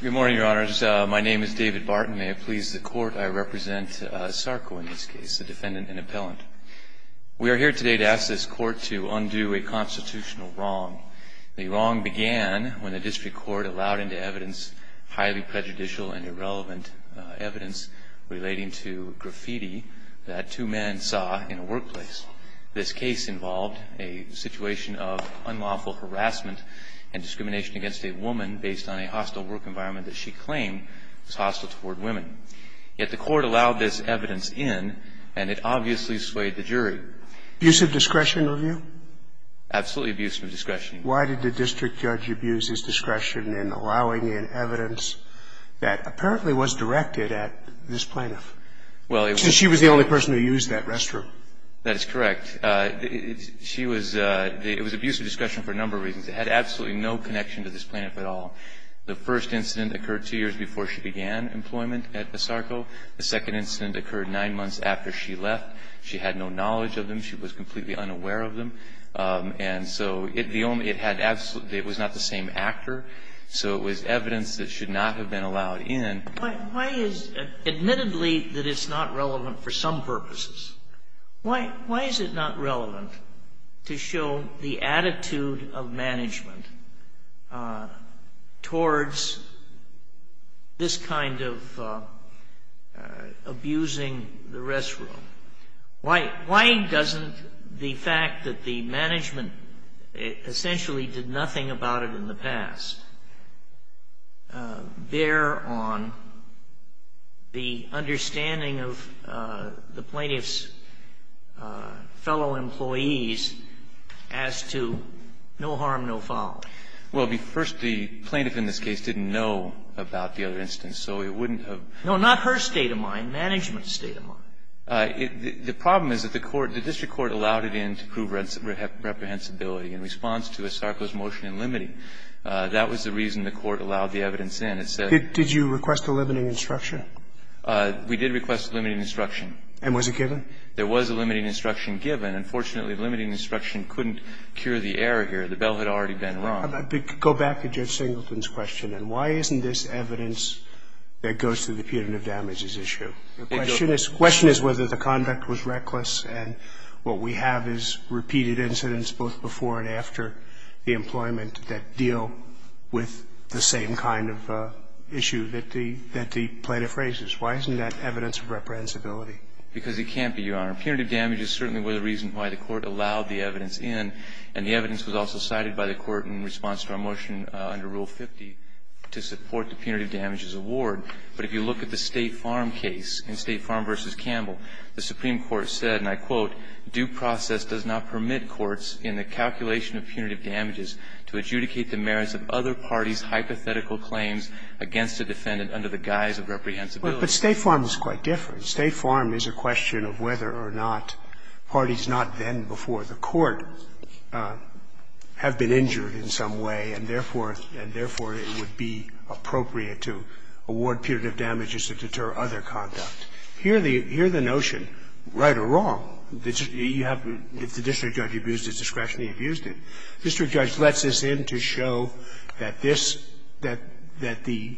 Good morning, your honors. My name is David Barton. May it please the court, I represent ASARCO in this case, the defendant and appellant. We are here today to ask this court to undo a constitutional wrong. The wrong began when the district court allowed into evidence highly prejudicial and irrelevant evidence relating to graffiti that two men saw in a workplace. This case involved a situation of unlawful harassment and discrimination against a woman based on a hostile work environment that she claimed was hostile toward women. Yet the court allowed this evidence in, and it obviously swayed the jury. Abusive discretion review? Absolutely abusive discretion. Why did the district judge abuse his discretion in allowing in evidence that apparently was directed at this plaintiff? Well, it was. Because she was the only person who used that restroom. That is correct. It was abusive discretion for a number of reasons. It had absolutely no connection to this plaintiff at all. The first incident occurred two years before she began employment at ASARCO. The second incident occurred nine months after she left. She had no knowledge of them. She was completely unaware of them. And so it was not the same actor. So it was evidence that should not have been allowed in. Admittedly, it's not relevant for some purposes. Why is it not relevant to show the attitude of management towards this kind of abusing the restroom? Why doesn't the fact that the management essentially did nothing about it in the past bear on the understanding of the plaintiff's fellow employees as to no harm, no foul? Well, first, the plaintiff in this case didn't know about the other instance, so it wouldn't have been. No, not her state of mind, management's state of mind. The problem is that the court, the district court allowed it in to prove reprehensibility in response to ASARCO's motion in limiting. That was the reason the court allowed the evidence in. Did you request a limiting instruction? We did request a limiting instruction. And was it given? There was a limiting instruction given. Unfortunately, the limiting instruction couldn't cure the error here. The bell had already been rung. Go back to Judge Singleton's question. And why isn't this evidence that goes to the punitive damages issue? The question is whether the conduct was reckless, and what we have is repeated incidents both before and after the employment that deal with the same kind of issue that the plaintiff raises. Why isn't that evidence of reprehensibility? Because it can't be, Your Honor. Punitive damages certainly were the reason why the court allowed the evidence in, and the evidence was also cited by the court in response to our motion under Rule 50 to support the punitive damages award. But if you look at the State Farm case in State Farm v. Campbell, the Supreme Court said, and I quote, "... due process does not permit courts in the calculation of punitive damages to adjudicate the merits of other parties' hypothetical claims against a defendant under the guise of reprehensibility." But State Farm is quite different. State Farm is a question of whether or not parties not then before the court have been injured in some way, and therefore it would be appropriate to award punitive damages to deter other conduct. Here the notion, right or wrong, you have the district judge abused his discretion, he abused it. District judge lets this in to show that this, that the,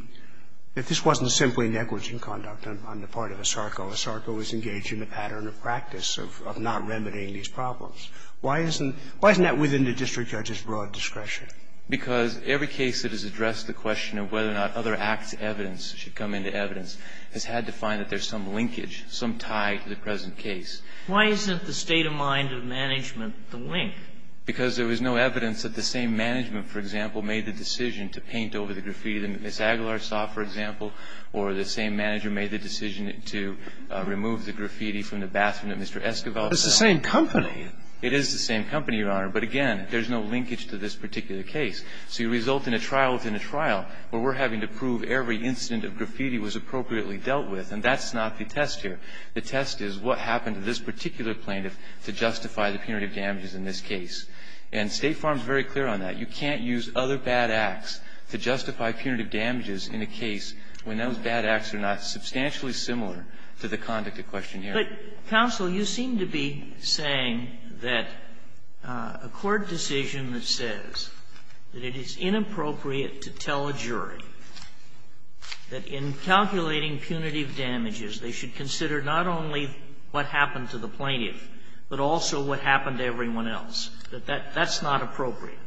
that this wasn't simply negligent conduct on the part of ASARCO. ASARCO is engaged in a pattern of practice of not remedying these problems. Why isn't, why isn't that within the district judge's broad discretion? Because every case that has addressed the question of whether or not other acts' evidence should come into evidence has had to find that there's some linkage, some tie to the present case. Why isn't the state of mind of management the link? Because there was no evidence that the same management, for example, made the decision to paint over the graffiti that Ms. Aguilar saw, for example, or the same manager made the decision to remove the graffiti from the bathroom that Mr. Esquivel saw. Scalia. But it's the same company. It is the same company, Your Honor. But again, there's no linkage to this particular case. So you result in a trial within a trial where we're having to prove every incident of graffiti was appropriately dealt with. And that's not the test here. The test is what happened to this particular plaintiff to justify the punitive damages in this case. And State Farm is very clear on that. You can't use other bad acts to justify punitive damages in a case when those bad acts are not substantially similar to the conduct at question here. But, counsel, you seem to be saying that a court decision that says that it is inappropriate to tell a jury that in calculating punitive damages they should consider not only what happened to the plaintiff, but also what happened to everyone else, that that's not appropriate.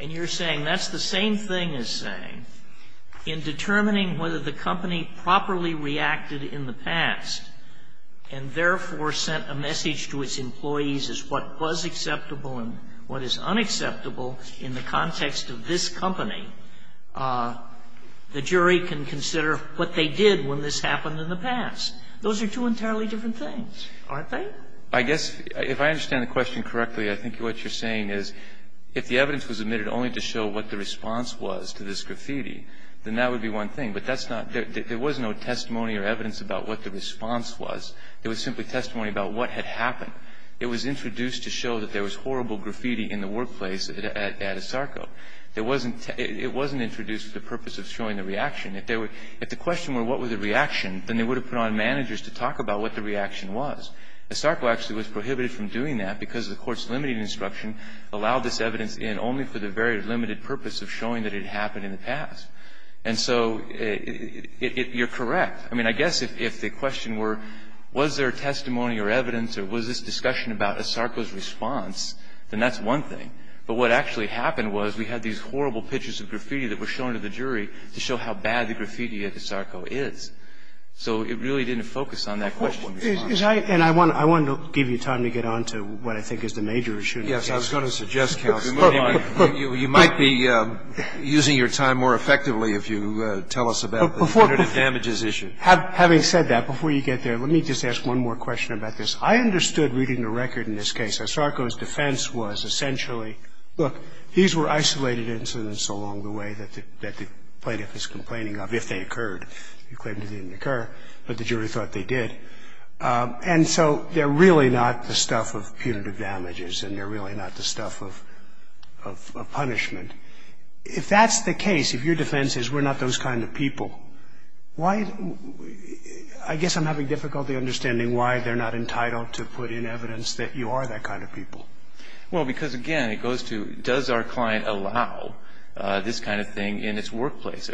And you're saying that's the same thing as saying in determining whether the company properly reacted in the past and, therefore, sent a message to its employees as what was acceptable and what is unacceptable in the context of this company, the jury can consider what they did when this happened in the past. Those are two entirely different things, aren't they? I guess if I understand the question correctly, I think what you're saying is if the evidence was admitted only to show what the response was to this graffiti, then that would be one thing. But that's not the case. There was no testimony or evidence about what the response was. It was simply testimony about what had happened. It was introduced to show that there was horrible graffiti in the workplace at Asarco. There wasn't – it wasn't introduced for the purpose of showing the reaction. If there were – if the question were what was the reaction, then they would have put on managers to talk about what the reaction was. Asarco actually was prohibited from doing that because the court's limited instruction allowed this evidence in only for the very limited purpose of showing that it happened in the past. And so you're correct. I mean, I guess if the question were was there testimony or evidence or was this discussion about Asarco's response, then that's one thing. But what actually happened was we had these horrible pictures of graffiti that were shown to the jury to show how bad the graffiti at Asarco is. So it really didn't focus on that question. And I want to give you time to get on to what I think is the major issue. Yes, I was going to suggest, counsel, you might be using your time more effectively if you tell us about the punitive damages issue. Having said that, before you get there, let me just ask one more question about this. I understood reading the record in this case, Asarco's defense was essentially, look, these were isolated incidents along the way that the plaintiff is complaining of if they occurred. He claimed it didn't occur, but the jury thought they did. And so they're really not the stuff of punitive damages and they're really not the stuff of punishment. If that's the case, if your defense is we're not those kind of people, I guess I'm having difficulty understanding why they're not entitled to put in evidence that you are that kind of people. Well, because, again, it goes to does our client allow this kind of thing in its workplace?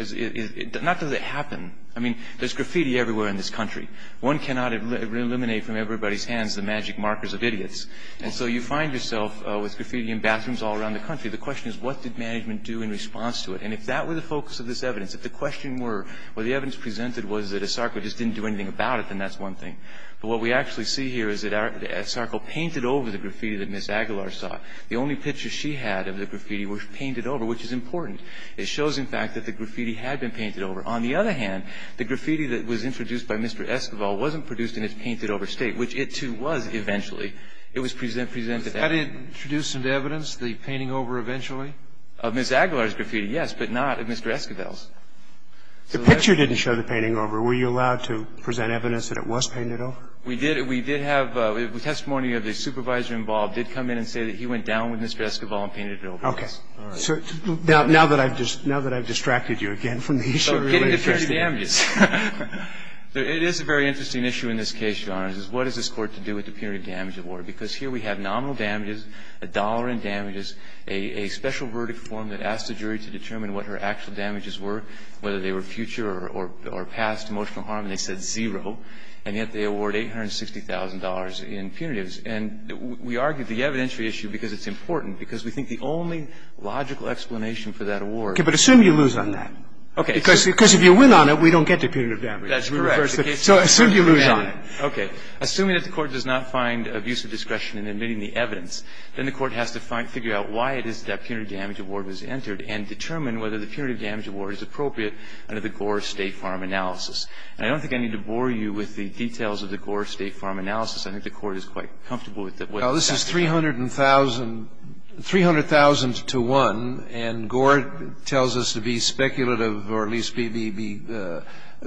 Not does it happen. I mean, there's graffiti everywhere in this country. One cannot eliminate from everybody's hands the magic markers of idiots. And so you find yourself with graffiti in bathrooms all around the country. The question is what did management do in response to it? And if that were the focus of this evidence, if the question were, well, the evidence presented was that Asarco just didn't do anything about it, then that's one thing. But what we actually see here is that Asarco painted over the graffiti that Ms. Aguilar saw. The only pictures she had of the graffiti were painted over, which is important. It shows, in fact, that the graffiti had been painted over. On the other hand, the graffiti that was introduced by Mr. Esquivel wasn't produced in its painted-over state, which it, too, was eventually. It was presented after. Had it introduced into evidence, the painting over eventually? Of Ms. Aguilar's graffiti, yes, but not of Mr. Esquivel's. The picture didn't show the painting over. Were you allowed to present evidence that it was painted over? We did. We did have testimony of the supervisor involved did come in and say that he went down with Mr. Esquivel and painted it over. Okay. All right. Now that I've distracted you again from the issue, it's really interesting. Getting to punitive damages. It is a very interesting issue in this case, Your Honor, is what does this Court have to do with the punitive damage award? Because here we have nominal damages, a dollar in damages, a special verdict form that asks the jury to determine what her actual damages were, whether they were future or past emotional harm, and they said zero. And yet they award $860,000 in punitives. And we argue the evidentiary issue because it's important, because we think the only logical explanation for that award is that it's a punitive damage. Okay. But assume you lose on that. Okay. Because if you win on it, we don't get the punitive damage. That's correct. So assume you lose on it. Okay. Assuming that the Court does not find abuse of discretion in admitting the evidence, then the Court has to figure out why it is that punitive damage award was entered and determine whether the punitive damage award is appropriate under the Gore State Farm analysis. And I don't think I need to bore you with the details of the Gore State Farm analysis. I think the Court is quite comfortable with what it says. Well, this is 300,000 to 1, and Gore tells us to be speculative or at least be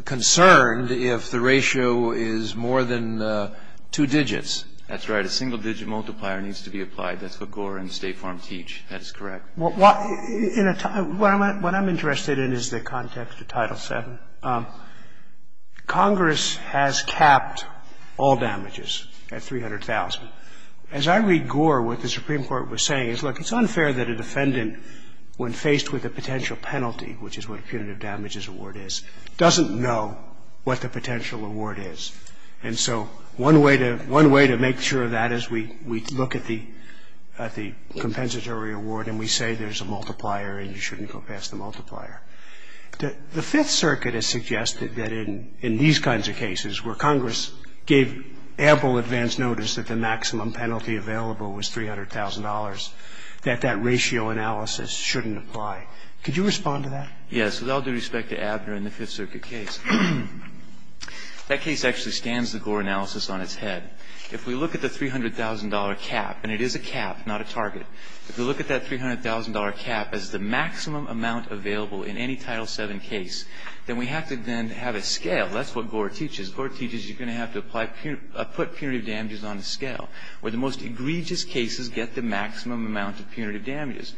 concerned if the ratio is more than two digits. That's right. A single-digit multiplier needs to be applied. That's what Gore and State Farm teach. That is correct. What I'm interested in is the context of Title VII. Congress has capped all damages at 300,000. As I read Gore, what the Supreme Court was saying is, look, it's unfair that a defendant, when faced with a potential penalty, which is what a punitive damages award is, doesn't know what the potential award is. And so one way to make sure of that is we look at the compensatory award, and we say there's a multiplier and you shouldn't go past the multiplier. The Fifth Circuit has suggested that in these kinds of cases where Congress gave ample advance notice that the maximum penalty available was $300,000, that that ratio analysis shouldn't apply. Could you respond to that? Yes. With all due respect to Abner and the Fifth Circuit case, that case actually scans the Gore analysis on its head. If we look at the $300,000 cap, and it is a cap, not a target, if we look at that $300,000 cap as the maximum amount available in any Title VII case, then we have to then have a scale. That's what Gore teaches. Gore teaches you're going to have to apply, put punitive damages on a scale, where the most egregious cases get the maximum amount of punitive damages.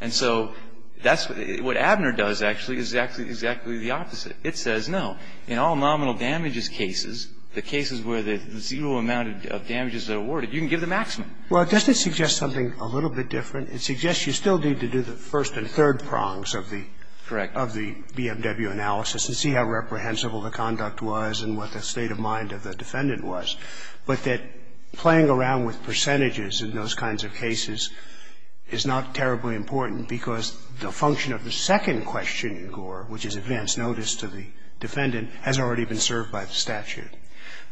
And so that's what Abner does, actually, is exactly the opposite. It says no. In all nominal damages cases, the cases where the zero amount of damages are awarded, you can give the maximum. Well, doesn't it suggest something a little bit different? It suggests you still need to do the first and third prongs of the BMW analysis to see how reprehensible the conduct was and what the state of mind of the defendant was. But that playing around with percentages in those kinds of cases is not terribly important, because the function of the second question in Gore, which is advance notice to the defendant, has already been served by the statute.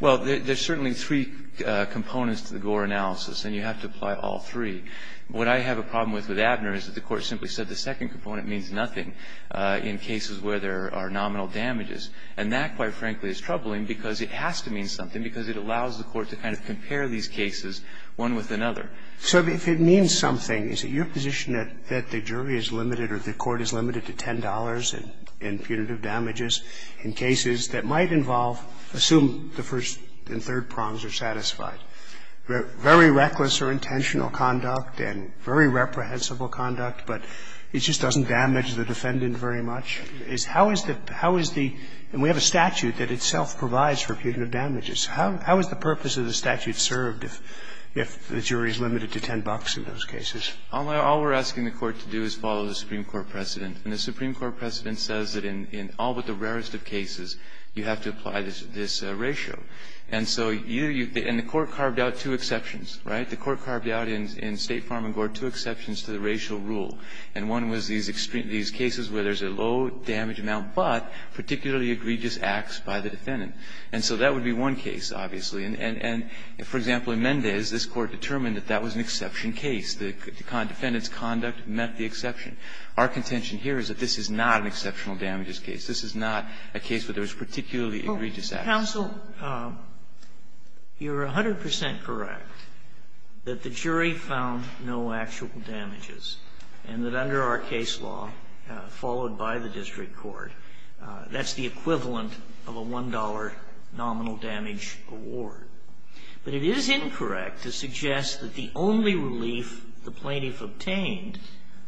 Well, there's certainly three components to the Gore analysis, and you have to apply all three. What I have a problem with with Abner is that the Court simply said the second component means nothing in cases where there are nominal damages. And that, quite frankly, is troubling, because it has to mean something, because it allows the Court to kind of compare these cases one with another. So if it means something, is it your position that the jury is limited or the Court is limited to $10 in punitive damages in cases that might involve, assume the first and third prongs are satisfied? Very reckless or intentional conduct and very reprehensible conduct, but it's just doesn't damage the defendant very much, is how is the – how is the – and we have a statute that itself provides for punitive damages. How is the purpose of the statute served if the jury is limited to $10 in those cases? All we're asking the Court to do is follow the Supreme Court precedent. And the Supreme Court precedent says that in all but the rarest of cases, you have to apply this ratio. And so you – and the Court carved out two exceptions, right? The Court carved out in State Farm and Gore two exceptions to the racial rule. And one was these extreme – these cases where there's a low damage amount, but particularly egregious acts by the defendant. And so that would be one case, obviously. And for example, in Mendez, this Court determined that that was an exception case. The defendant's conduct met the exception. Our contention here is that this is not an exceptional damages case. This is not a case where there was particularly egregious acts. Sotomayor, you're 100 percent correct that the jury found no actual damages. And that under our case law, followed by the district court, that's the equivalent of a $1 nominal damage award. But it is incorrect to suggest that the only relief the plaintiff obtained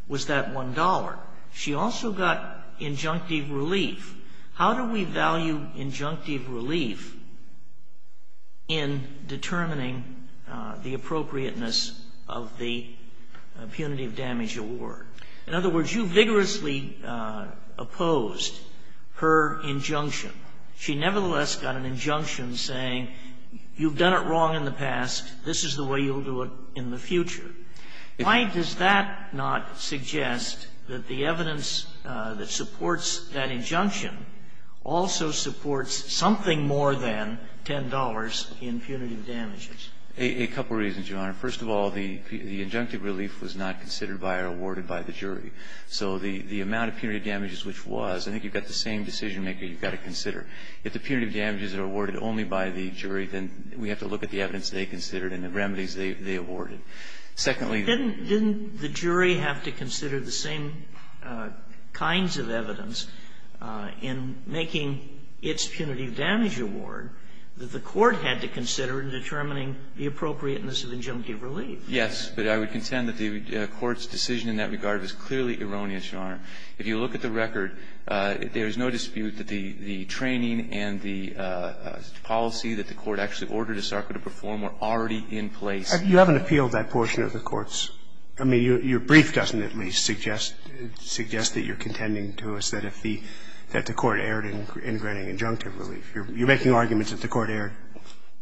was that $1. She also got injunctive relief. How do we value injunctive relief in determining the appropriateness of the punitive damage award? In other words, you vigorously opposed her injunction. She nevertheless got an injunction saying, you've done it wrong in the past. This is the way you'll do it in the future. Why does that not suggest that the evidence that supports that injunction also supports something more than $10 in punitive damages? A couple reasons, Your Honor. First of all, the injunctive relief was not considered by or awarded by the jury. So the amount of punitive damages which was, I think you've got the same decision maker you've got to consider. If the punitive damages are awarded only by the jury, then we have to look at the evidence they considered and the remedies they awarded. Secondly the jury have to consider the same kinds of evidence in making its punitive damage award that the court had to consider in determining the appropriateness of injunctive relief. Yes, but I would contend that the Court's decision in that regard is clearly erroneous, Your Honor. If you look at the record, there is no dispute that the training and the policy that the Court actually ordered ASARCA to perform were already in place. You haven't appealed that portion of the Court's – I mean, your brief doesn't at least suggest that you're contending to us that if the – that the Court erred in granting injunctive relief. You're making arguments that the Court erred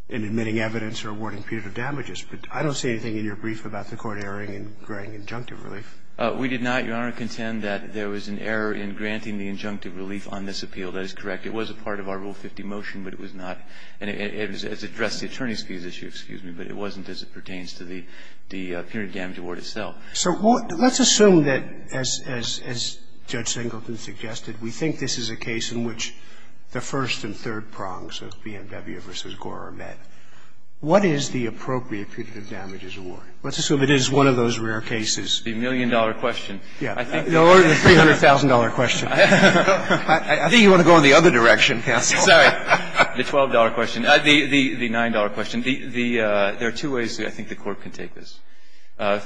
in admitting evidence or awarding punitive damages, but I don't see anything in your brief about the Court erring in granting injunctive relief. We did not, Your Honor, contend that there was an error in granting the injunctive relief on this appeal. That is correct. It was a part of our Rule 50 motion, but it was not – and it addressed the attorney's fees issue, excuse me, but it wasn't as it pertains to the punitive damage award itself. So let's assume that, as Judge Singleton suggested, we think this is a case in which the first and third prongs of BMW v. Gore are met. What is the appropriate punitive damages award? Let's assume it is one of those rare cases. The million-dollar question. Yeah. Or the $300,000 question. I think you want to go in the other direction, counsel. Sorry. The $12 question. The $9 question. The – there are two ways I think the Court can take this.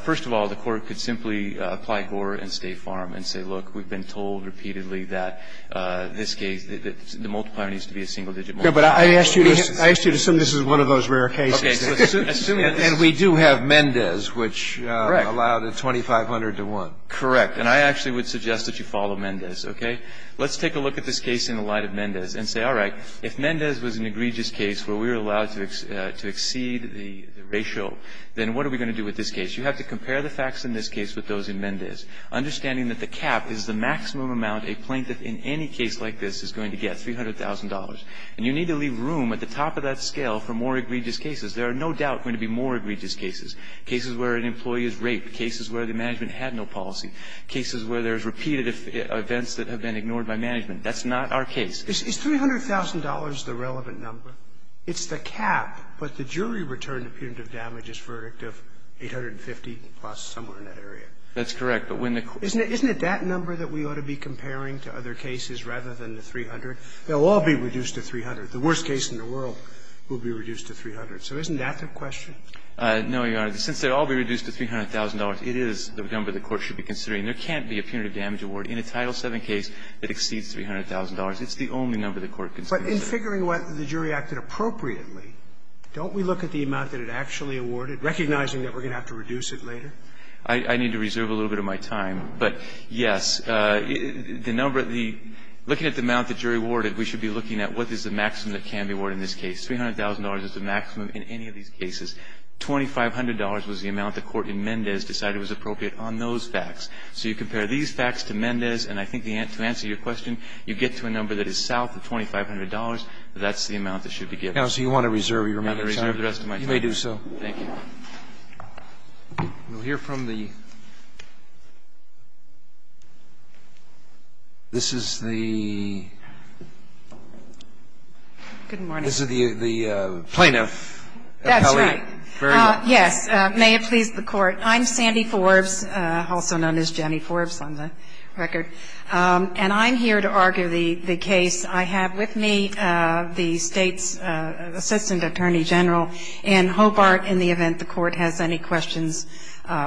First of all, the Court could simply apply Gore and State Farm and say, look, we've been told repeatedly that this case, the multiplier needs to be a single-digit multiplier. I asked you to assume this is one of those rare cases. Okay. And we do have Mendez, which allowed a 2,500 to 1. Correct. And I actually would suggest that you follow Mendez, okay? Let's take a look at this case in the light of Mendez and say, all right, if Mendez was an egregious case where we were allowed to exceed the ratio, then what are we going to do with this case? You have to compare the facts in this case with those in Mendez, understanding that the cap is the maximum amount a plaintiff in any case like this is going to get, $300,000. And you need to leave room at the top of that scale for more egregious cases. There are no doubt going to be more egregious cases, cases where an employee is raped, cases where the management had no policy, cases where there's repeated events that have been ignored by management. That's not our case. Is $300,000 the relevant number? It's the cap, but the jury returned a punitive damage as verdict of 850-plus somewhere in that area. That's correct. Isn't it that number that we ought to be comparing to other cases rather than the 300? They'll all be reduced to 300. The worst case in the world will be reduced to 300. So isn't that the question? No, Your Honor. Since they'll all be reduced to $300,000, it is the number the court should be considering. There can't be a punitive damage award in a Title VII case that exceeds $300,000. It's the only number the court considers. But in figuring whether the jury acted appropriately, don't we look at the amount that it actually awarded, recognizing that we're going to have to reduce it later? I need to reserve a little bit of my time. But, yes, the number of the – looking at the amount the jury awarded, we should be looking at what is the maximum that can be awarded in this case. $300,000 is the maximum in any of these cases. $2,500 was the amount the court in Mendez decided was appropriate on those facts. So you compare these facts to Mendez, and I think to answer your question, you get to a number that is south of $2,500. That's the amount that should be given. Now, so you want to reserve your time? I'm going to reserve the rest of my time. You may do so. Thank you. We'll hear from the – this is the plaintiff. That's right. Very well. Yes. May it please the Court. I'm Sandy Forbes, also known as Jenny Forbes on the record. And I'm here to argue the case. I have with me the State's Assistant Attorney General Ann Hobart in the event the court has any questions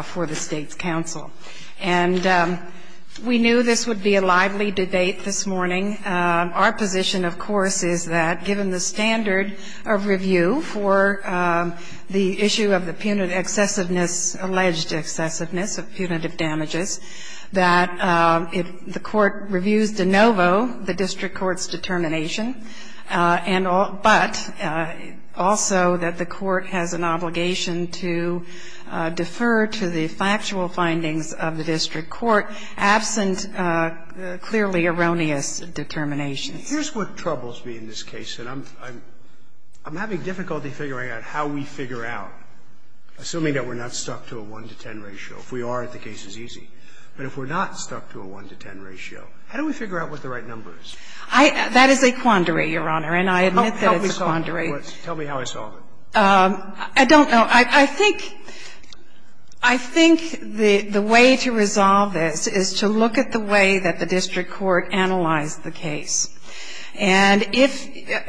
for the State's counsel. And we knew this would be a lively debate this morning. Our position, of course, is that given the standard of review for the issue of the punitive excessiveness, alleged excessiveness of punitive damages, that if the court reviews de novo, the district court's determination, but also that the court has an obligation to defer to the factual findings of the district court absent clearly erroneous determinations. Here's what troubles me in this case. And I'm having difficulty figuring out how we figure out, assuming that we're not stuck to a 1 to 10 ratio. If we are, the case is easy. But if we're not stuck to a 1 to 10 ratio, how do we figure out what the right number is? That is a quandary, Your Honor. And I admit that it's a quandary. Tell me how I solved it. I don't know. I think the way to resolve this is to look at the way that the district court analyzed the case. And if,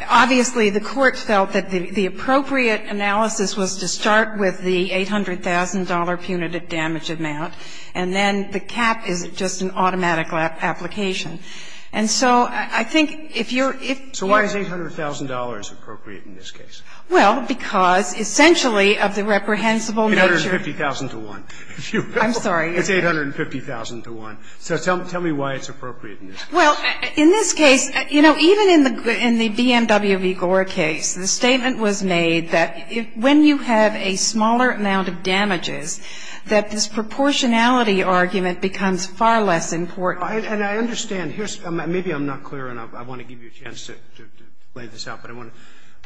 obviously, the court felt that the appropriate analysis was to start with the $800,000 punitive damage amount, and then the cap is just an automatic application. And so I think if you're, if you're. So why is $800,000 appropriate in this case? Well, because essentially of the reprehensible nature. $850,000 to 1. I'm sorry. It's $850,000 to 1. So tell me why it's appropriate in this case. Well, in this case, you know, even in the BMW v. Gore case, the statement was made that when you have a smaller amount of damages, that this proportionality argument becomes far less important. And I understand. Here's, maybe I'm not clear enough. I want to give you a chance to play this out. But I want to.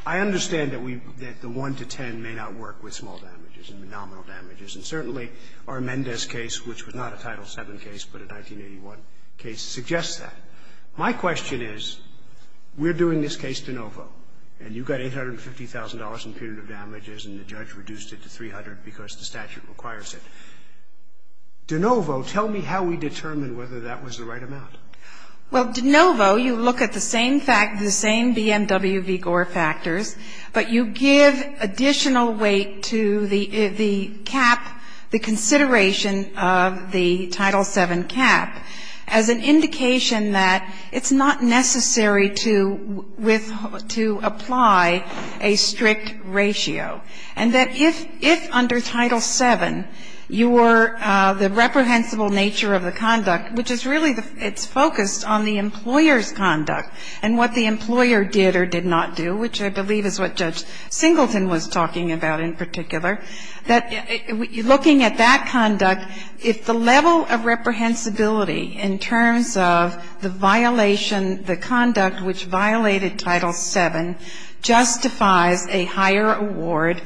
I understand that we, that the 1 to 10 may not work with small damages and nominal damages. And certainly our Mendez case, which was not a Title VII case, but a 1981 case, suggests that. My question is, we're doing this case de novo. And you got $850,000 in punitive damages and the judge reduced it to $300,000 because the statute requires it. De novo, tell me how we determine whether that was the right amount. Well, de novo, you look at the same BMW v. Gore factors, but you give additional weight to the cap, the consideration of the Title VII cap as an indication that it's not necessary to apply a strict ratio. And that if under Title VII you were, the reprehensible nature of the conduct, which is really, it's focused on the employer's conduct and what the employer did or did not do, which I believe is what Judge Singleton was talking about in particular, that looking at that conduct, if the level of reprehensibility in terms of the violation, the conduct which violated Title VII justifies a higher award,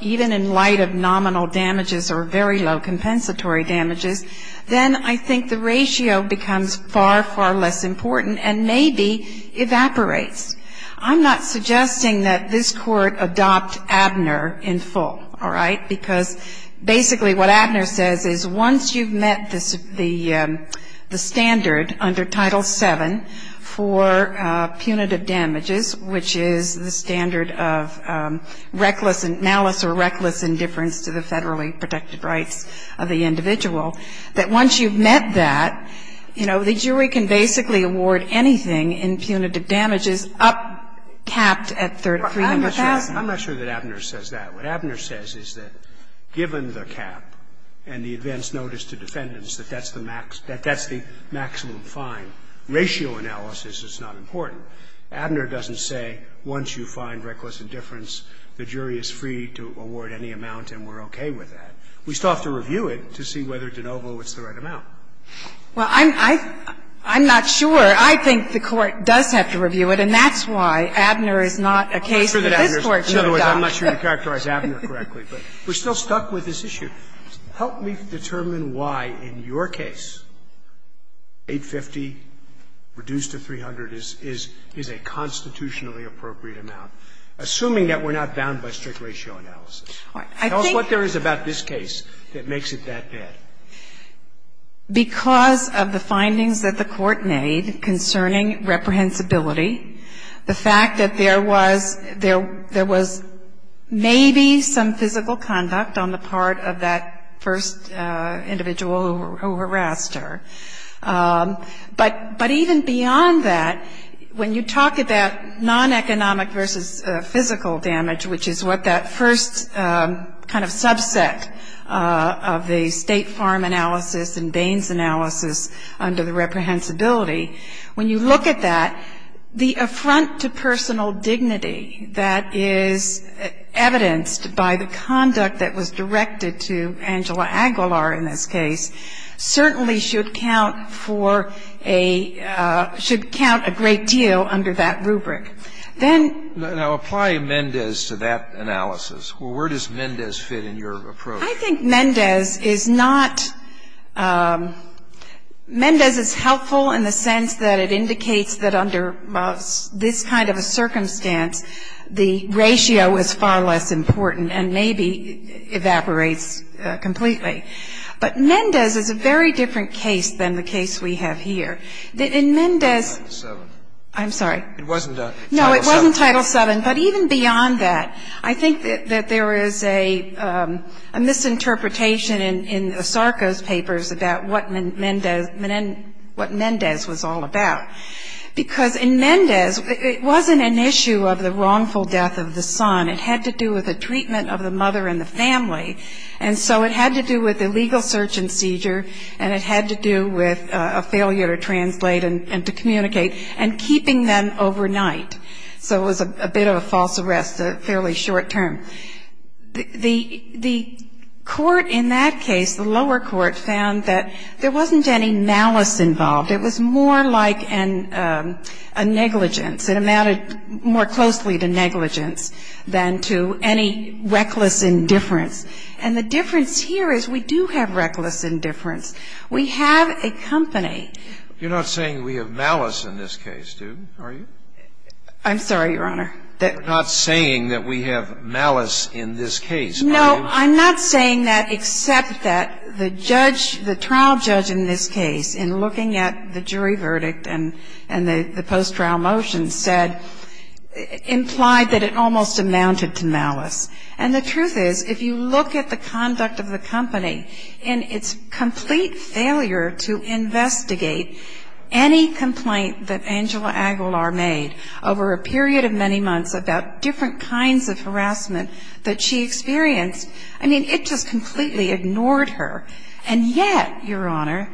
even in light of nominal damages or very low compensatory damages, then I think the ratio becomes far, far less important and maybe evaporates. I'm not suggesting that this Court adopt Abner in full, all right, because basically what Abner says is once you've met the standard under Title VII for punitive damages, which is the standard of reckless malice or reckless indifference to the federally protected rights of the individual, that once you've met that, you know, the jury can basically award anything in punitive damages up capped at $300,000. I'm not sure that Abner says that. What Abner says is that given the cap and the advance notice to defendants, that that's the maximum fine. Ratio analysis is not important. Abner doesn't say once you find reckless indifference, the jury is free to award any amount and we're okay with that. We still have to review it to see whether de novo it's the right amount. Well, I'm not sure. I think the Court does have to review it, and that's why Abner is not a case that this Court should adopt. In other words, I'm not sure you characterized Abner correctly, but we're still stuck with this issue. Help me determine why in your case $850,000 reduced to $300,000 is a constitutionally appropriate amount, assuming that we're not bound by strict ratio analysis. Tell us what there is about this case that makes it that bad. Because of the findings that the Court made concerning reprehensibility, the fact that there was maybe some physical conduct on the part of that first individual who harassed her. But even beyond that, when you talk about non-economic versus physical damage, which is what that first kind of subset of the State Farm analysis and Baines analysis under the reprehensibility, when you look at that, the affront to personal dignity that is evidenced by the conduct that was directed to Angela Aguilar in this case certainly should count for a – should count a great deal under that rubric. Then – Now, apply Mendez to that analysis. Where does Mendez fit in your approach? I think Mendez is not – Mendez is helpful in the sense that it indicates that under this kind of a circumstance, the ratio is far less important and maybe evaporates completely. But Mendez is a very different case than the case we have here. In Mendez – Title VII. I'm sorry. It wasn't Title VII. No, it wasn't Title VII. But even beyond that, I think that there is a misinterpretation in Osarco's papers about what Mendez was all about. Because in Mendez, it wasn't an issue of the wrongful death of the son. It had to do with the treatment of the mother and the family. And so it had to do with the legal search and seizure, and it had to do with a failure to translate and to communicate, and keeping them overnight. So it was a bit of a false arrest, a fairly short term. The court in that case, the lower court, found that there wasn't any malice involved. It was more like a negligence. It amounted more closely to negligence than to any reckless indifference. And the difference here is we do have reckless indifference. We have a company. You're not saying we have malice in this case, are you? I'm sorry, Your Honor. You're not saying that we have malice in this case, are you? No. I'm not saying that except that the judge, the trial judge in this case, in looking at the jury verdict and the post-trial motion, said, implied that it almost amounted to malice. And the truth is, if you look at the conduct of the company in its complete failure to investigate any complaint that Angela Aguilar made over a period of many months about different kinds of harassment that she experienced, I mean, it just completely ignored her. And yet, Your Honor,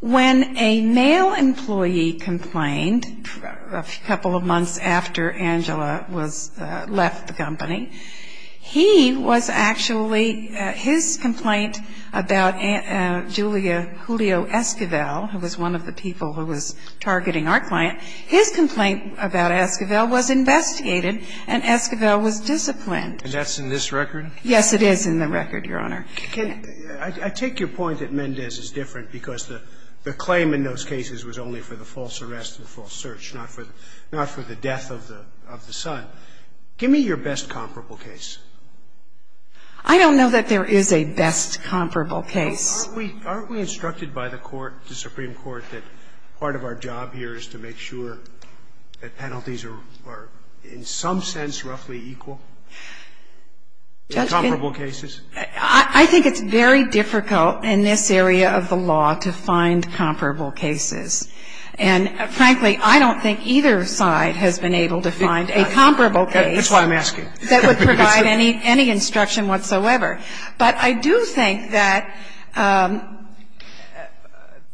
when a male employee complained a couple of months after Angela was left the company, he was actually, his complaint about Julia Julio Esquivel, who was one of the people who was targeting our client, his complaint about Esquivel was investigated, and Esquivel was disciplined. And that's in this record? Yes, it is in the record, Your Honor. I take your point that Mendez is different because the claim in those cases was only for the false arrest and false search, not for the death of the son. Give me your best comparable case. I don't know that there is a best comparable case. Aren't we instructed by the Court, the Supreme Court, that part of our job here is to make sure that penalties are in some sense roughly equal? Comparable cases? I think it's very difficult in this area of the law to find comparable cases. And frankly, I don't think either side has been able to find a comparable case. That's why I'm asking. That would provide any instruction whatsoever. But I do think that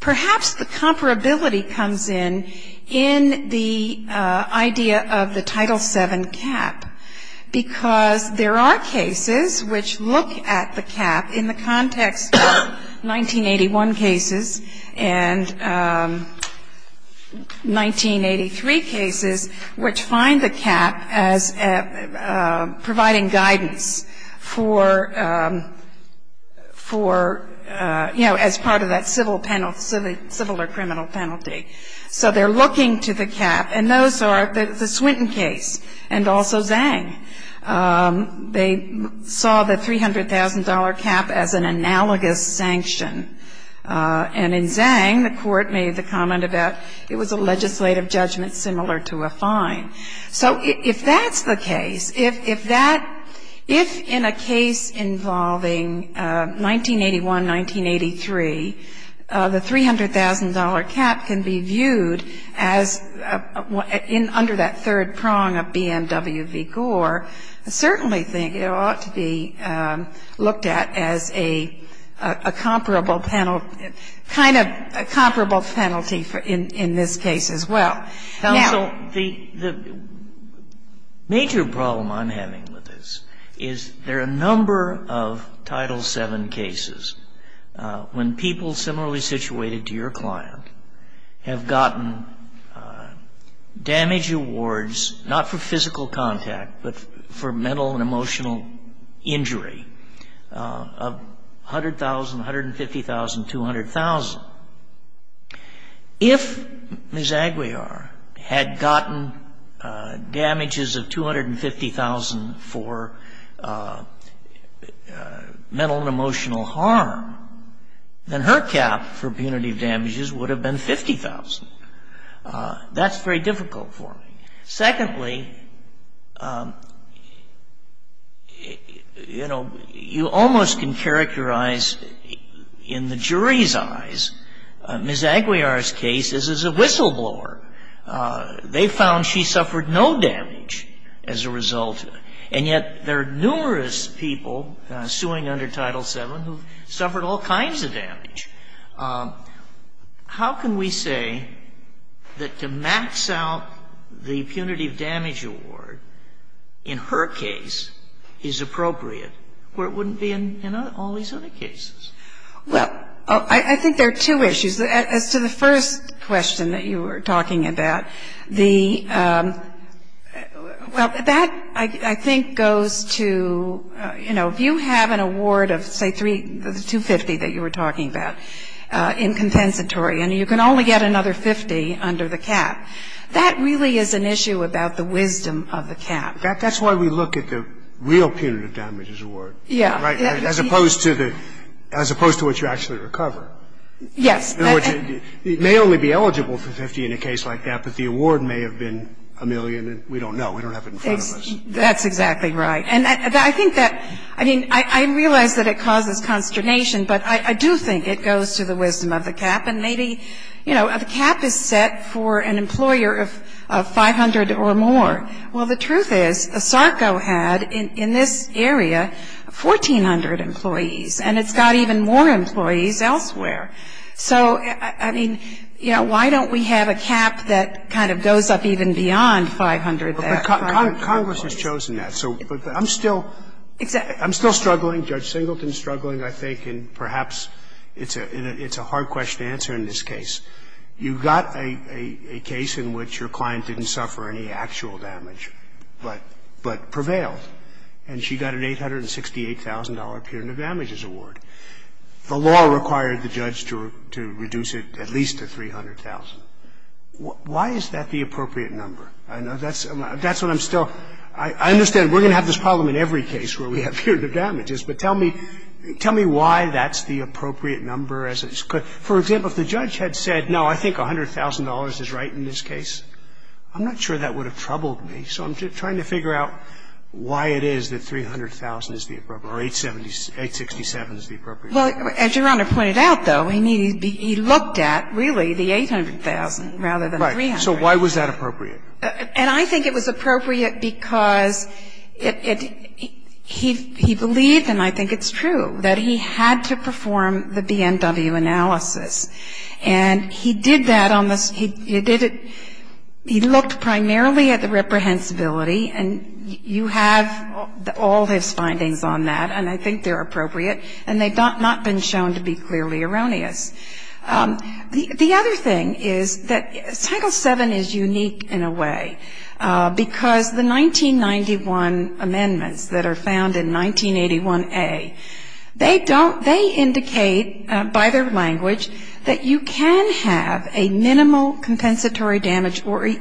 perhaps the comparability comes in, in the idea of the Title VII cap, because there are cases which look at the cap in the context of 1981 cases and 1983 cases which find the cap as providing guidance for, you know, as part of that civil or criminal penalty. So they're looking to the cap. And those are the Swinton case and also Zhang. They saw the $300,000 cap as an analogous sanction. And in Zhang, the Court made the comment about it was a legislative judgment similar to a fine. So if that's the case, if that, if in a case involving 1981, 1983, the $300,000 cap can be viewed as under that third prong of BMW v. Gore, I certainly think it ought to be looked at as a comparable penalty, kind of a comparable penalty in this case as well. Now, counsel, the major problem I'm having with this is there are a number of Title VII cases when people similarly situated to your client have gotten damage awards not for physical contact, but for mental and emotional injury of $100,000, $150,000, $200,000. If Ms. Aguiar had gotten damages of $250,000 for mental and emotional harm, then her cap for punitive damages would have been $50,000. That's very difficult for me. Secondly, you know, you almost can characterize in the jury's eyes Ms. Aguiar's case as a whistleblower. They found she suffered no damage as a result, and yet there are numerous people suing under Title VII who suffered all kinds of damage. How can we say that to max out the punitive damage award in her case is appropriate, where it wouldn't be in all these other cases? Well, I think there are two issues. As to the first question that you were talking about, the – well, that, I think, goes to, you know, if you have an award of, say, $250,000 that you were talking about in compensatory, and you can only get another $50,000 under the cap, that really is an issue about the wisdom of the cap. That's why we look at the real punitive damages award. Yeah. Right? As opposed to the – as opposed to what you actually recover. Yes. In other words, it may only be eligible for $50,000 in a case like that, but the award may have been a million, and we don't know. We don't have it in front of us. That's exactly right. And I think that – I mean, I realize that it causes consternation, but I do think it goes to the wisdom of the cap. And maybe, you know, the cap is set for an employer of 500 or more. Well, the truth is, SARCO had, in this area, 1,400 employees, and it's got even more employees elsewhere. So, I mean, you know, why don't we have a cap that kind of goes up even beyond 500? But Congress has chosen that. So I'm still struggling. Judge Singleton is struggling, I think, and perhaps it's a hard question to answer in this case. You've got a case in which your client didn't suffer any actual damage, but prevailed, and she got an $868,000 punitive damages award. The law required the judge to reduce it at least to 300,000. Why is that the appropriate number? That's what I'm still – I understand we're going to have this problem in every case where we have punitive damages, but tell me why that's the appropriate number as it's – for example, if the judge had said, no, I think $100,000 is right in this case, I'm not sure that would have troubled me. So I'm just trying to figure out why it is that 300,000 is the appropriate number, or 867 is the appropriate number. Well, as Your Honor pointed out, though, I mean, he looked at, really, the 800,000 rather than 300. So why was that appropriate? And I think it was appropriate because it – he believed, and I think it's true, that he had to perform the BNW analysis. And he did that on the – he did it – he looked primarily at the reprehensibility, and you have all his findings on that, and I think they're appropriate. And they've not been shown to be clearly erroneous. The other thing is that Title VII is unique in a way because the 1991 amendments that are found in 1981A, they don't – they indicate by their language that you can have a minimal compensatory damage or –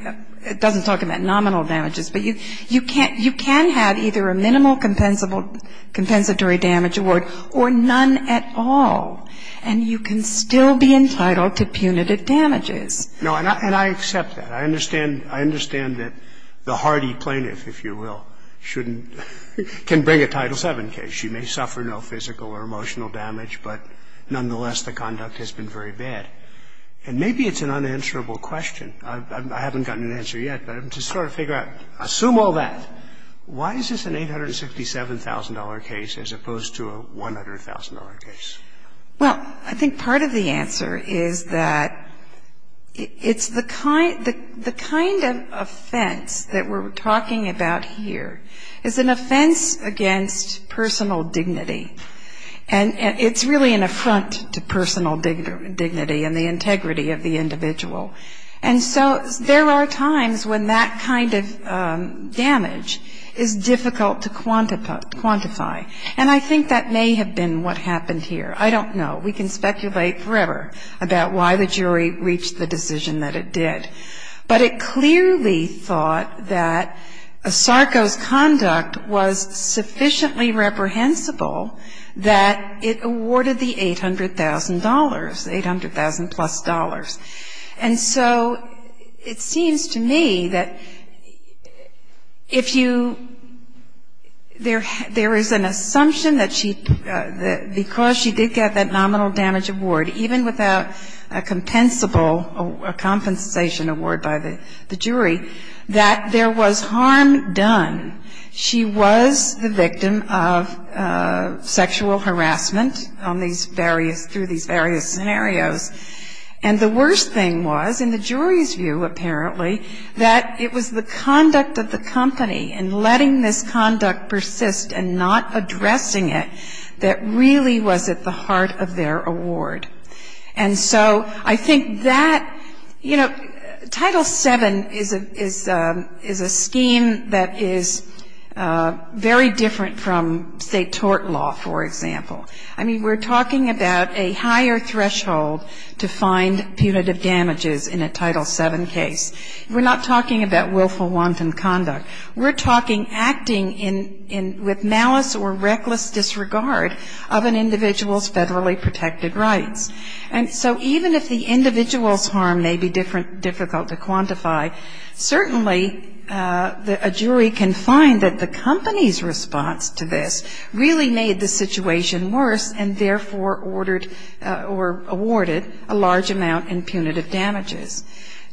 it doesn't talk about nominal damages, but you can't – you can have either a minimal compensatory damage award or none at all. And you can still be entitled to punitive damages. No, and I accept that. I understand – I understand that the hardy plaintiff, if you will, shouldn't – can bring a Title VII case. She may suffer no physical or emotional damage, but nonetheless, the conduct has been very bad. And maybe it's an unanswerable question. I haven't gotten an answer yet, but I'm just trying to figure out – assume all that. Why is this an $867,000 case as opposed to a $100,000 case? Well, I think part of the answer is that it's the kind – the kind of offense that we're talking about here is an offense against personal dignity. And it's really an affront to personal dignity and the integrity of the individual. And so there are times when that kind of damage is difficult to quantify. And I think that may have been what happened here. I don't know. We can speculate forever about why the jury reached the decision that it did. But it clearly thought that Sarko's conduct was sufficiently reprehensible that it awarded the $800,000, the $800,000-plus. And so it seems to me that if you – there is a – there is a possibility that the jury made an assumption that she – that because she did get that nominal damage award, even without a compensable – a compensation award by the jury, that there was harm done. She was the victim of sexual harassment on these various – through these various scenarios. And the worst thing was, in the jury's view, apparently, that it was the conduct of the company in letting this conduct persist and not addressing it that really was at the heart of their award. And so I think that – you know, Title VII is a scheme that is very different from, say, tort law, for example. I mean, we're talking about a higher threshold to find punitive damages in a Title VII case. We're not talking about willful wanton conduct. We're talking acting in – with malice or reckless disregard of an individual's federally protected rights. And so even if the individual's harm may be difficult to quantify, certainly a jury can find that the company's response to this really made the situation worse and therefore ordered or awarded a large amount in punitive damages.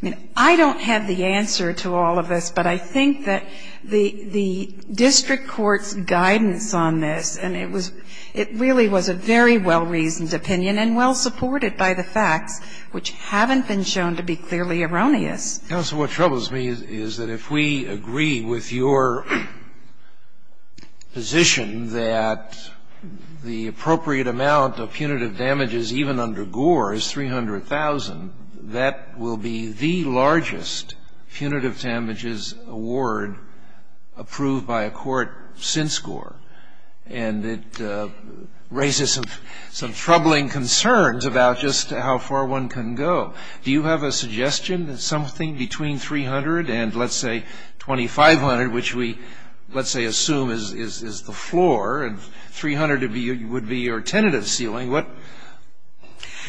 I mean, I don't have the answer to all of this, but I think that the district court's guidance on this, and it was – it really was a very well-reasoned opinion and well-supported by the facts, which haven't been shown to be clearly erroneous. Scalia. Counsel, what troubles me is that if we agree with your position that the appropriate amount of punitive damages even under Gore is 300,000, that will be the largest punitive damages award approved by a court since Gore. And it raises some troubling concerns about just how far one can go. Do you have a suggestion that something between 300 and, let's say, 2,500, which we, let's say, assume is the floor, and 300 would be your tentative ceiling,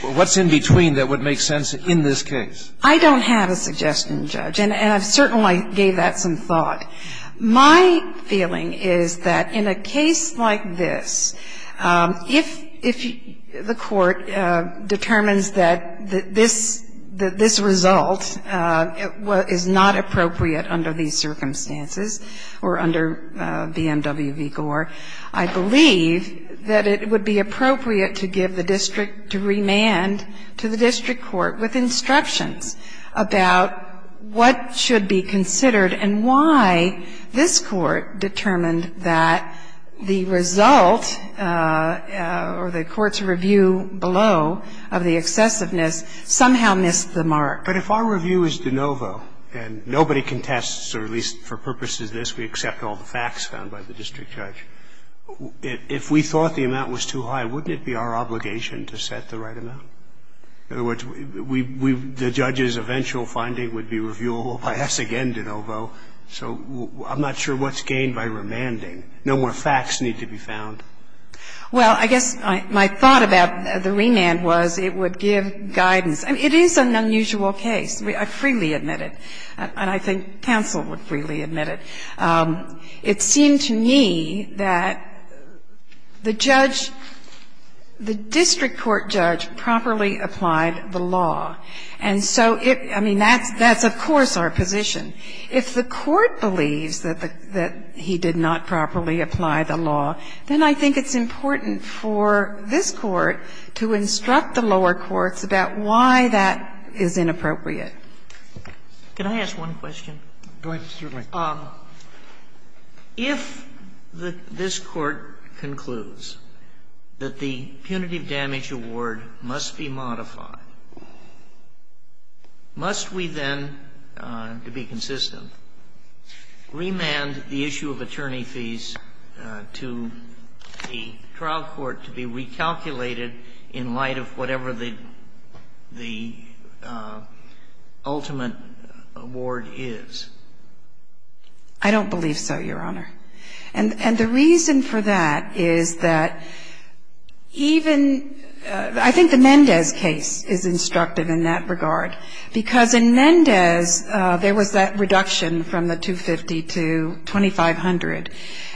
what's in between that would make sense in this case? I don't have a suggestion, Judge. And I've certainly gave that some thought. My feeling is that in a case like this, if the court determines that this result is not appropriate under these circumstances or under BMW v. Gore, I believe that it would be appropriate to give the district to remand to the district court with instructions about what should be considered and why this court determined that the result or the court's review below of the excessiveness somehow missed the mark. But if our review is de novo and nobody contests, or at least for purposes of this we accept all the facts found by the district judge, if we thought the amount was too high, wouldn't it be our obligation to set the right amount? In other words, the judge's eventual finding would be reviewable by us again de novo. So I'm not sure what's gained by remanding. No more facts need to be found. Well, I guess my thought about the remand was it would give guidance. I mean, it is an unusual case. I freely admit it. And I think counsel would freely admit it. It seemed to me that the judge, the district court judge, properly applied the law. And so it, I mean, that's of course our position. If the court believes that the he did not properly apply the law, then I think it's important for this Court to instruct the lower courts about why that is inappropriate. Can I ask one question? Go ahead, certainly. If this Court concludes that the punitive damage award must be modified, must we then, to be consistent, remand the issue of attorney fees to the trial court to be recalculated in light of whatever the ultimate award is? I don't believe so, Your Honor. And the reason for that is that even the Mendez case is instructive in that regard because in Mendez there was that reduction from the $250,000 to $2,500,000.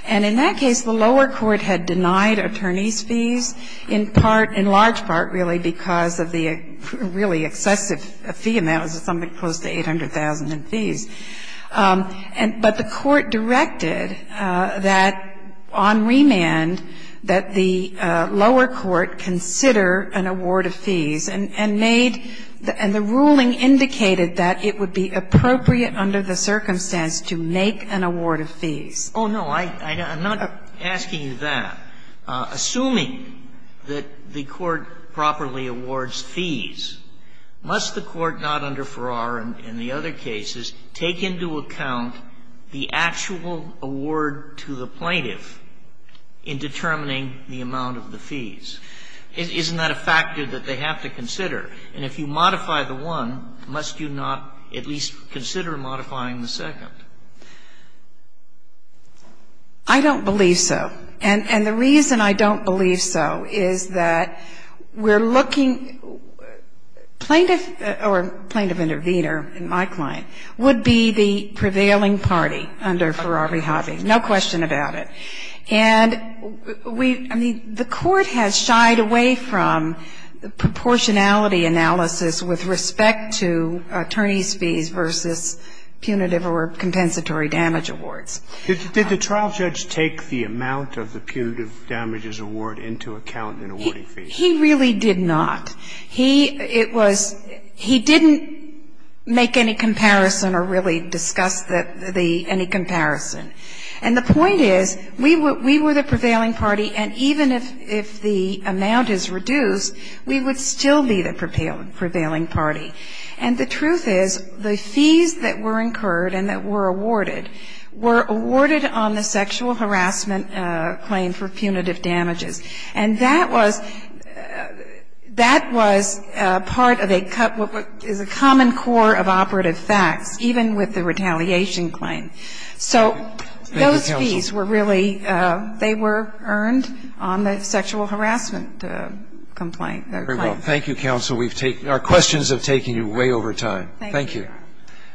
And in that case, the lower court had denied attorneys' fees in part, in large part, really because of the really excessive fee amount. It was something close to $800,000 in fees. But the court directed that on remand that the lower court consider an award of fees and made, and the ruling indicated that it would be appropriate under the circumstance to make an award of fees. Oh, no, I'm not asking that. Assuming that the court properly awards fees, must the court not under Farrar and the other cases take into account the actual award to the plaintiff in determining the amount of the fees? Isn't that a factor that they have to consider? And if you modify the one, must you not at least consider modifying the second? I don't believe so. And the reason I don't believe so is that we're looking. Plaintiff or plaintiff-intervenor in my client would be the prevailing party under Farrar v. Hobby. No question about it. And we, I mean, the court has shied away from the proportionality analysis with respect to attorneys' fees versus punitive or compensatory damage awards. Did the trial judge take the amount of the punitive damages award into account in awarding fees? He really did not. He, it was, he didn't make any comparison or really discuss the, any comparison. And the point is, we were the prevailing party, and even if the amount is reduced, we would still be the prevailing party. And the truth is, the fees that were incurred and that were awarded were awarded on the sexual harassment claim for punitive damages. And that was, that was part of a, is a common core of operative facts, even with the retaliation claim. So those fees were really, they were earned on the sexual harassment complaint, the claim. Thank you, counsel. We've taken, our questions have taken you way over time. Thank you.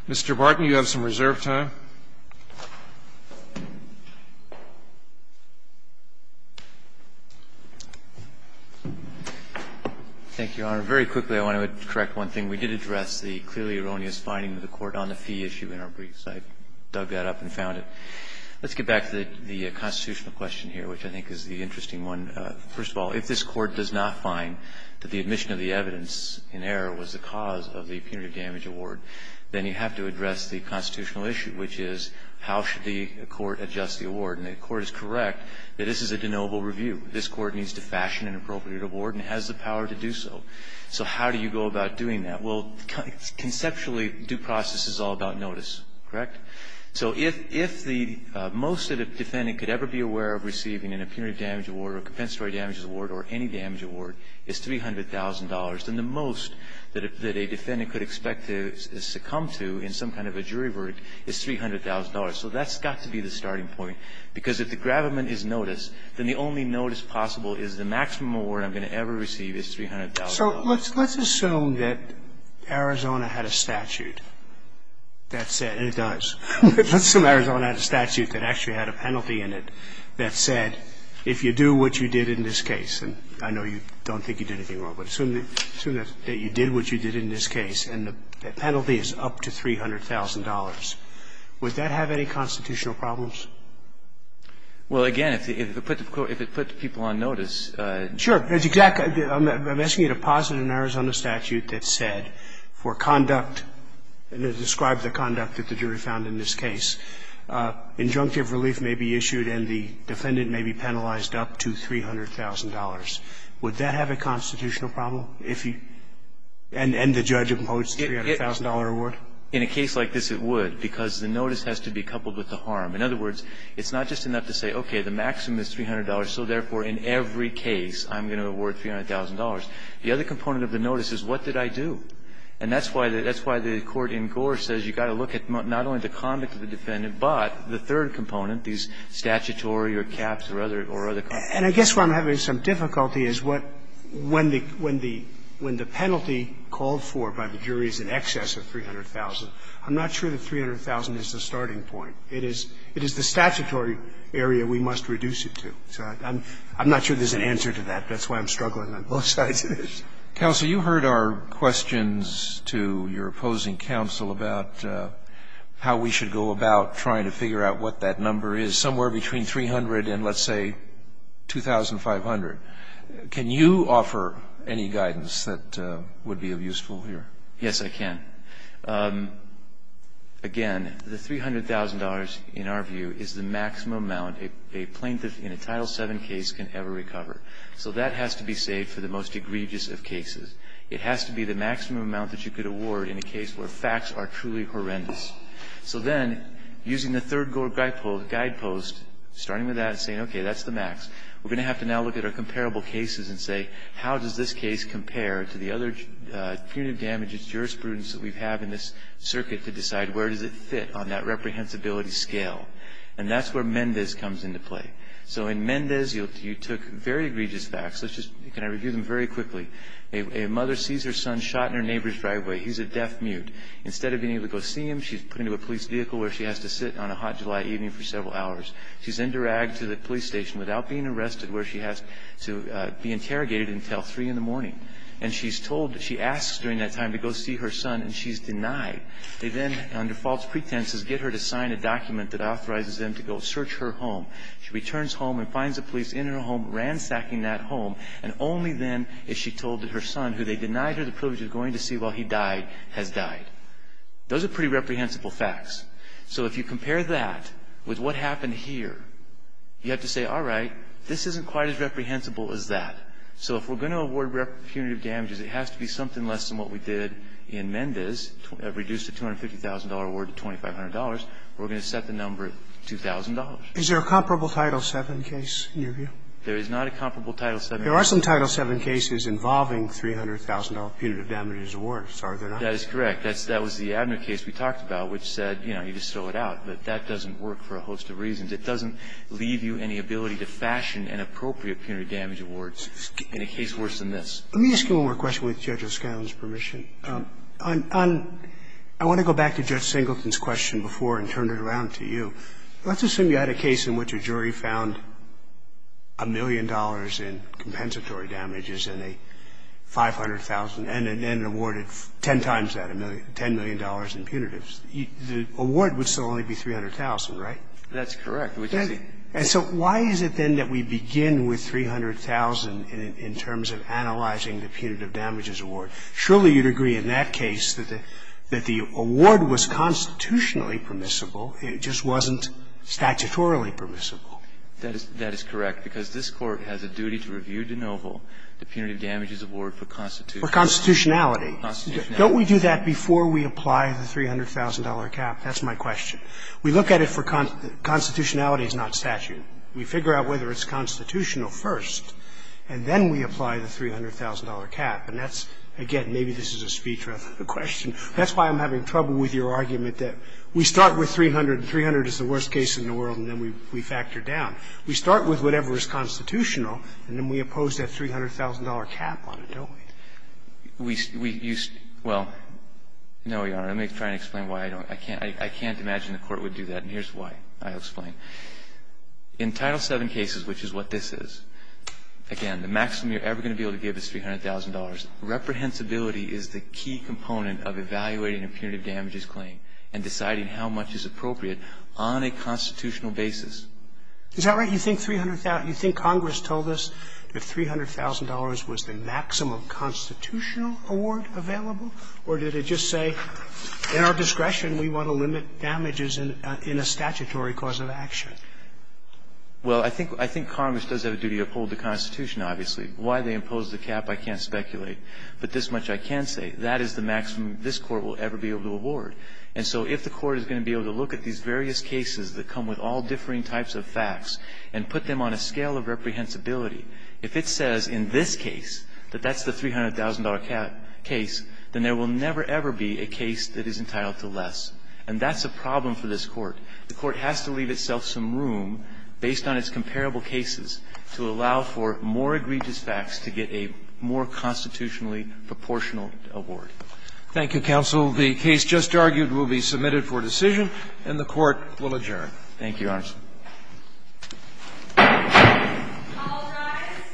Mr. Barton, you have some reserved time. Thank you, Your Honor. Very quickly, I want to correct one thing. We did address the clearly erroneous finding of the court on the fee issue in our briefs. I dug that up and found it. Let's get back to the constitutional question here, which I think is the interesting one. First of all, if this Court does not find that the admission of the evidence in error was the cause of the punitive damage award, then you have to address the constitutional issue, which is how should the court adjust the award. And the Court is correct that this is a de novo review. This Court needs to fashion an appropriate award and has the power to do so. So how do you go about doing that? Well, first of all, if the defendant is aware of receiving a punitive damage award, then the maximum award that the defendant will conceptually do process is all about notice, correct? So if the most that a defendant could ever be aware of receiving in a punitive damage award or a compensatory damages award or any damage award is $300,000, then the most that a defendant could expect to succumb to in some kind of a jury verdict is $300,000. So that's got to be the starting point, because if the gravamen is notice, then the only notice possible is the maximum award I'm going to ever receive is $300,000. So let's assume that Arizona had a statute that said, and it does, let's assume Arizona had a statute that actually had a penalty in it that said if you do what you did in this case, and I know you don't think you did anything wrong, but assume that you did what you did in this case and the penalty is up to $300,000, would that have any constitutional problems? Well, again, if it put the people on notice. Sure. I'm asking you to posit in an Arizona statute that said for conduct, and it describes the conduct that the jury found in this case, injunctive relief may be issued and the defendant may be penalized up to $300,000. Would that have a constitutional problem if you, and the judge imposes the $300,000 award? In a case like this, it would, because the notice has to be coupled with the harm. In other words, it's not just enough to say, okay, the maximum is $300, so therefore in every case I'm going to award $300,000. The other component of the notice is what did I do? And that's why the Court in Gore says you've got to look at not only the conduct of the defendant, but the third component, these statutory or caps or other costs. And I guess where I'm having some difficulty is what, when the penalty called for by the jury is in excess of $300,000, I'm not sure that $300,000 is the starting point. It is the statutory area we must reduce it to. So I'm not sure there's an answer to that. That's why I'm struggling on both sides of this. Roberts. Counsel, you heard our questions to your opposing counsel about how we should go about trying to figure out what that number is, somewhere between 300 and, let's say, 2,500. Can you offer any guidance that would be useful here? Yes, I can. Again, the $300,000, in our view, is the maximum amount a plaintiff in a Title VII case can ever recover. So that has to be saved for the most egregious of cases. It has to be the maximum amount that you could award in a case where facts are truly horrendous. So then, using the third Gore guidepost, starting with that and saying, okay, that's the max. We're going to have to now look at our comparable cases and say, how does this case compare to the other punitive damages, jurisprudence that we have in this circuit to decide where does it fit on that reprehensibility scale? And that's where Mendez comes into play. So in Mendez, you took very egregious facts. Let's just kind of review them very quickly. A mother sees her son shot in her neighbor's driveway. He's a deaf mute. Instead of being able to go see him, she's put into a police vehicle where she has to sit on a hot July evening for several hours. She's then dragged to the police station without being arrested where she has to be interrogated until 3 in the morning. And she's told, she asks during that time to go see her son, and she's denied. They then, under false pretenses, get her to sign a document that authorizes them to go search her home. She returns home and finds the police in her home ransacking that home. And only then is she told that her son, who they denied her the privilege of going to see while he died, has died. Those are pretty reprehensible facts. So if you compare that with what happened here, you have to say, all right, this isn't quite as reprehensible as that. So if we're going to award punitive damages, it has to be something less than what we did in Mendez, reduced the $250,000 award to $2,500. We're going to set the number at $2,000. Is there a comparable Title VII case in your view? There is not a comparable Title VII case. There are some Title VII cases involving $300,000 punitive damages awards, are there not? In fact, that was the Abner case we talked about, which said, you know, you just throw it out. But that doesn't work for a host of reasons. It doesn't leave you any ability to fashion an appropriate punitive damage award in a case worse than this. Let me ask you one more question with Judge O'Scallion's permission. I want to go back to Judge Singleton's question before and turn it around to you. Let's assume you had a case in which a jury found a million dollars in compensatory damages and a $500,000 and then awarded 10 times that, $10 million in punitives. The award would still only be $300,000, right? That's correct. And so why is it then that we begin with $300,000 in terms of analyzing the punitive damages award? Surely you'd agree in that case that the award was constitutionally permissible. It just wasn't statutorily permissible. That is correct. Because this Court has a duty to review de novo the punitive damages award for constitutionality. For constitutionality. Don't we do that before we apply the $300,000 cap? That's my question. We look at it for constitutionality is not statute. We figure out whether it's constitutional first, and then we apply the $300,000 cap. And that's, again, maybe this is a speech rather than a question. That's why I'm having trouble with your argument that we start with $300,000 and $300,000 is the worst case in the world and then we factor down. We start with whatever is constitutional and then we oppose that $300,000 cap on it, don't we? We used to – well, no, Your Honor. Let me try to explain why I don't. I can't imagine the Court would do that. And here's why I'll explain. In Title VII cases, which is what this is, again, the maximum you're ever going to be able to give is $300,000. Reprehensibility is the key component of evaluating a punitive damages claim and deciding how much is appropriate on a constitutional basis. Is that right? You think $300,000 – you think Congress told us that $300,000 was the maximum constitutional award available? Or did it just say, in our discretion, we want to limit damages in a statutory cause of action? Well, I think – I think Congress does have a duty to uphold the Constitution, obviously. Why they imposed the cap, I can't speculate. But this much I can say. That is the maximum this Court will ever be able to award. And so if the Court is going to be able to look at these various cases that come with all differing types of facts and put them on a scale of reprehensibility, if it says in this case that that's the $300,000 case, then there will never, ever be a case that is entitled to less. And that's a problem for this Court. The Court has to leave itself some room, based on its comparable cases, to allow for more egregious facts to get a more constitutionally proportional award. Thank you, counsel. The case just argued will be submitted for decision, and the Court will adjourn. Thank you, Your Honor.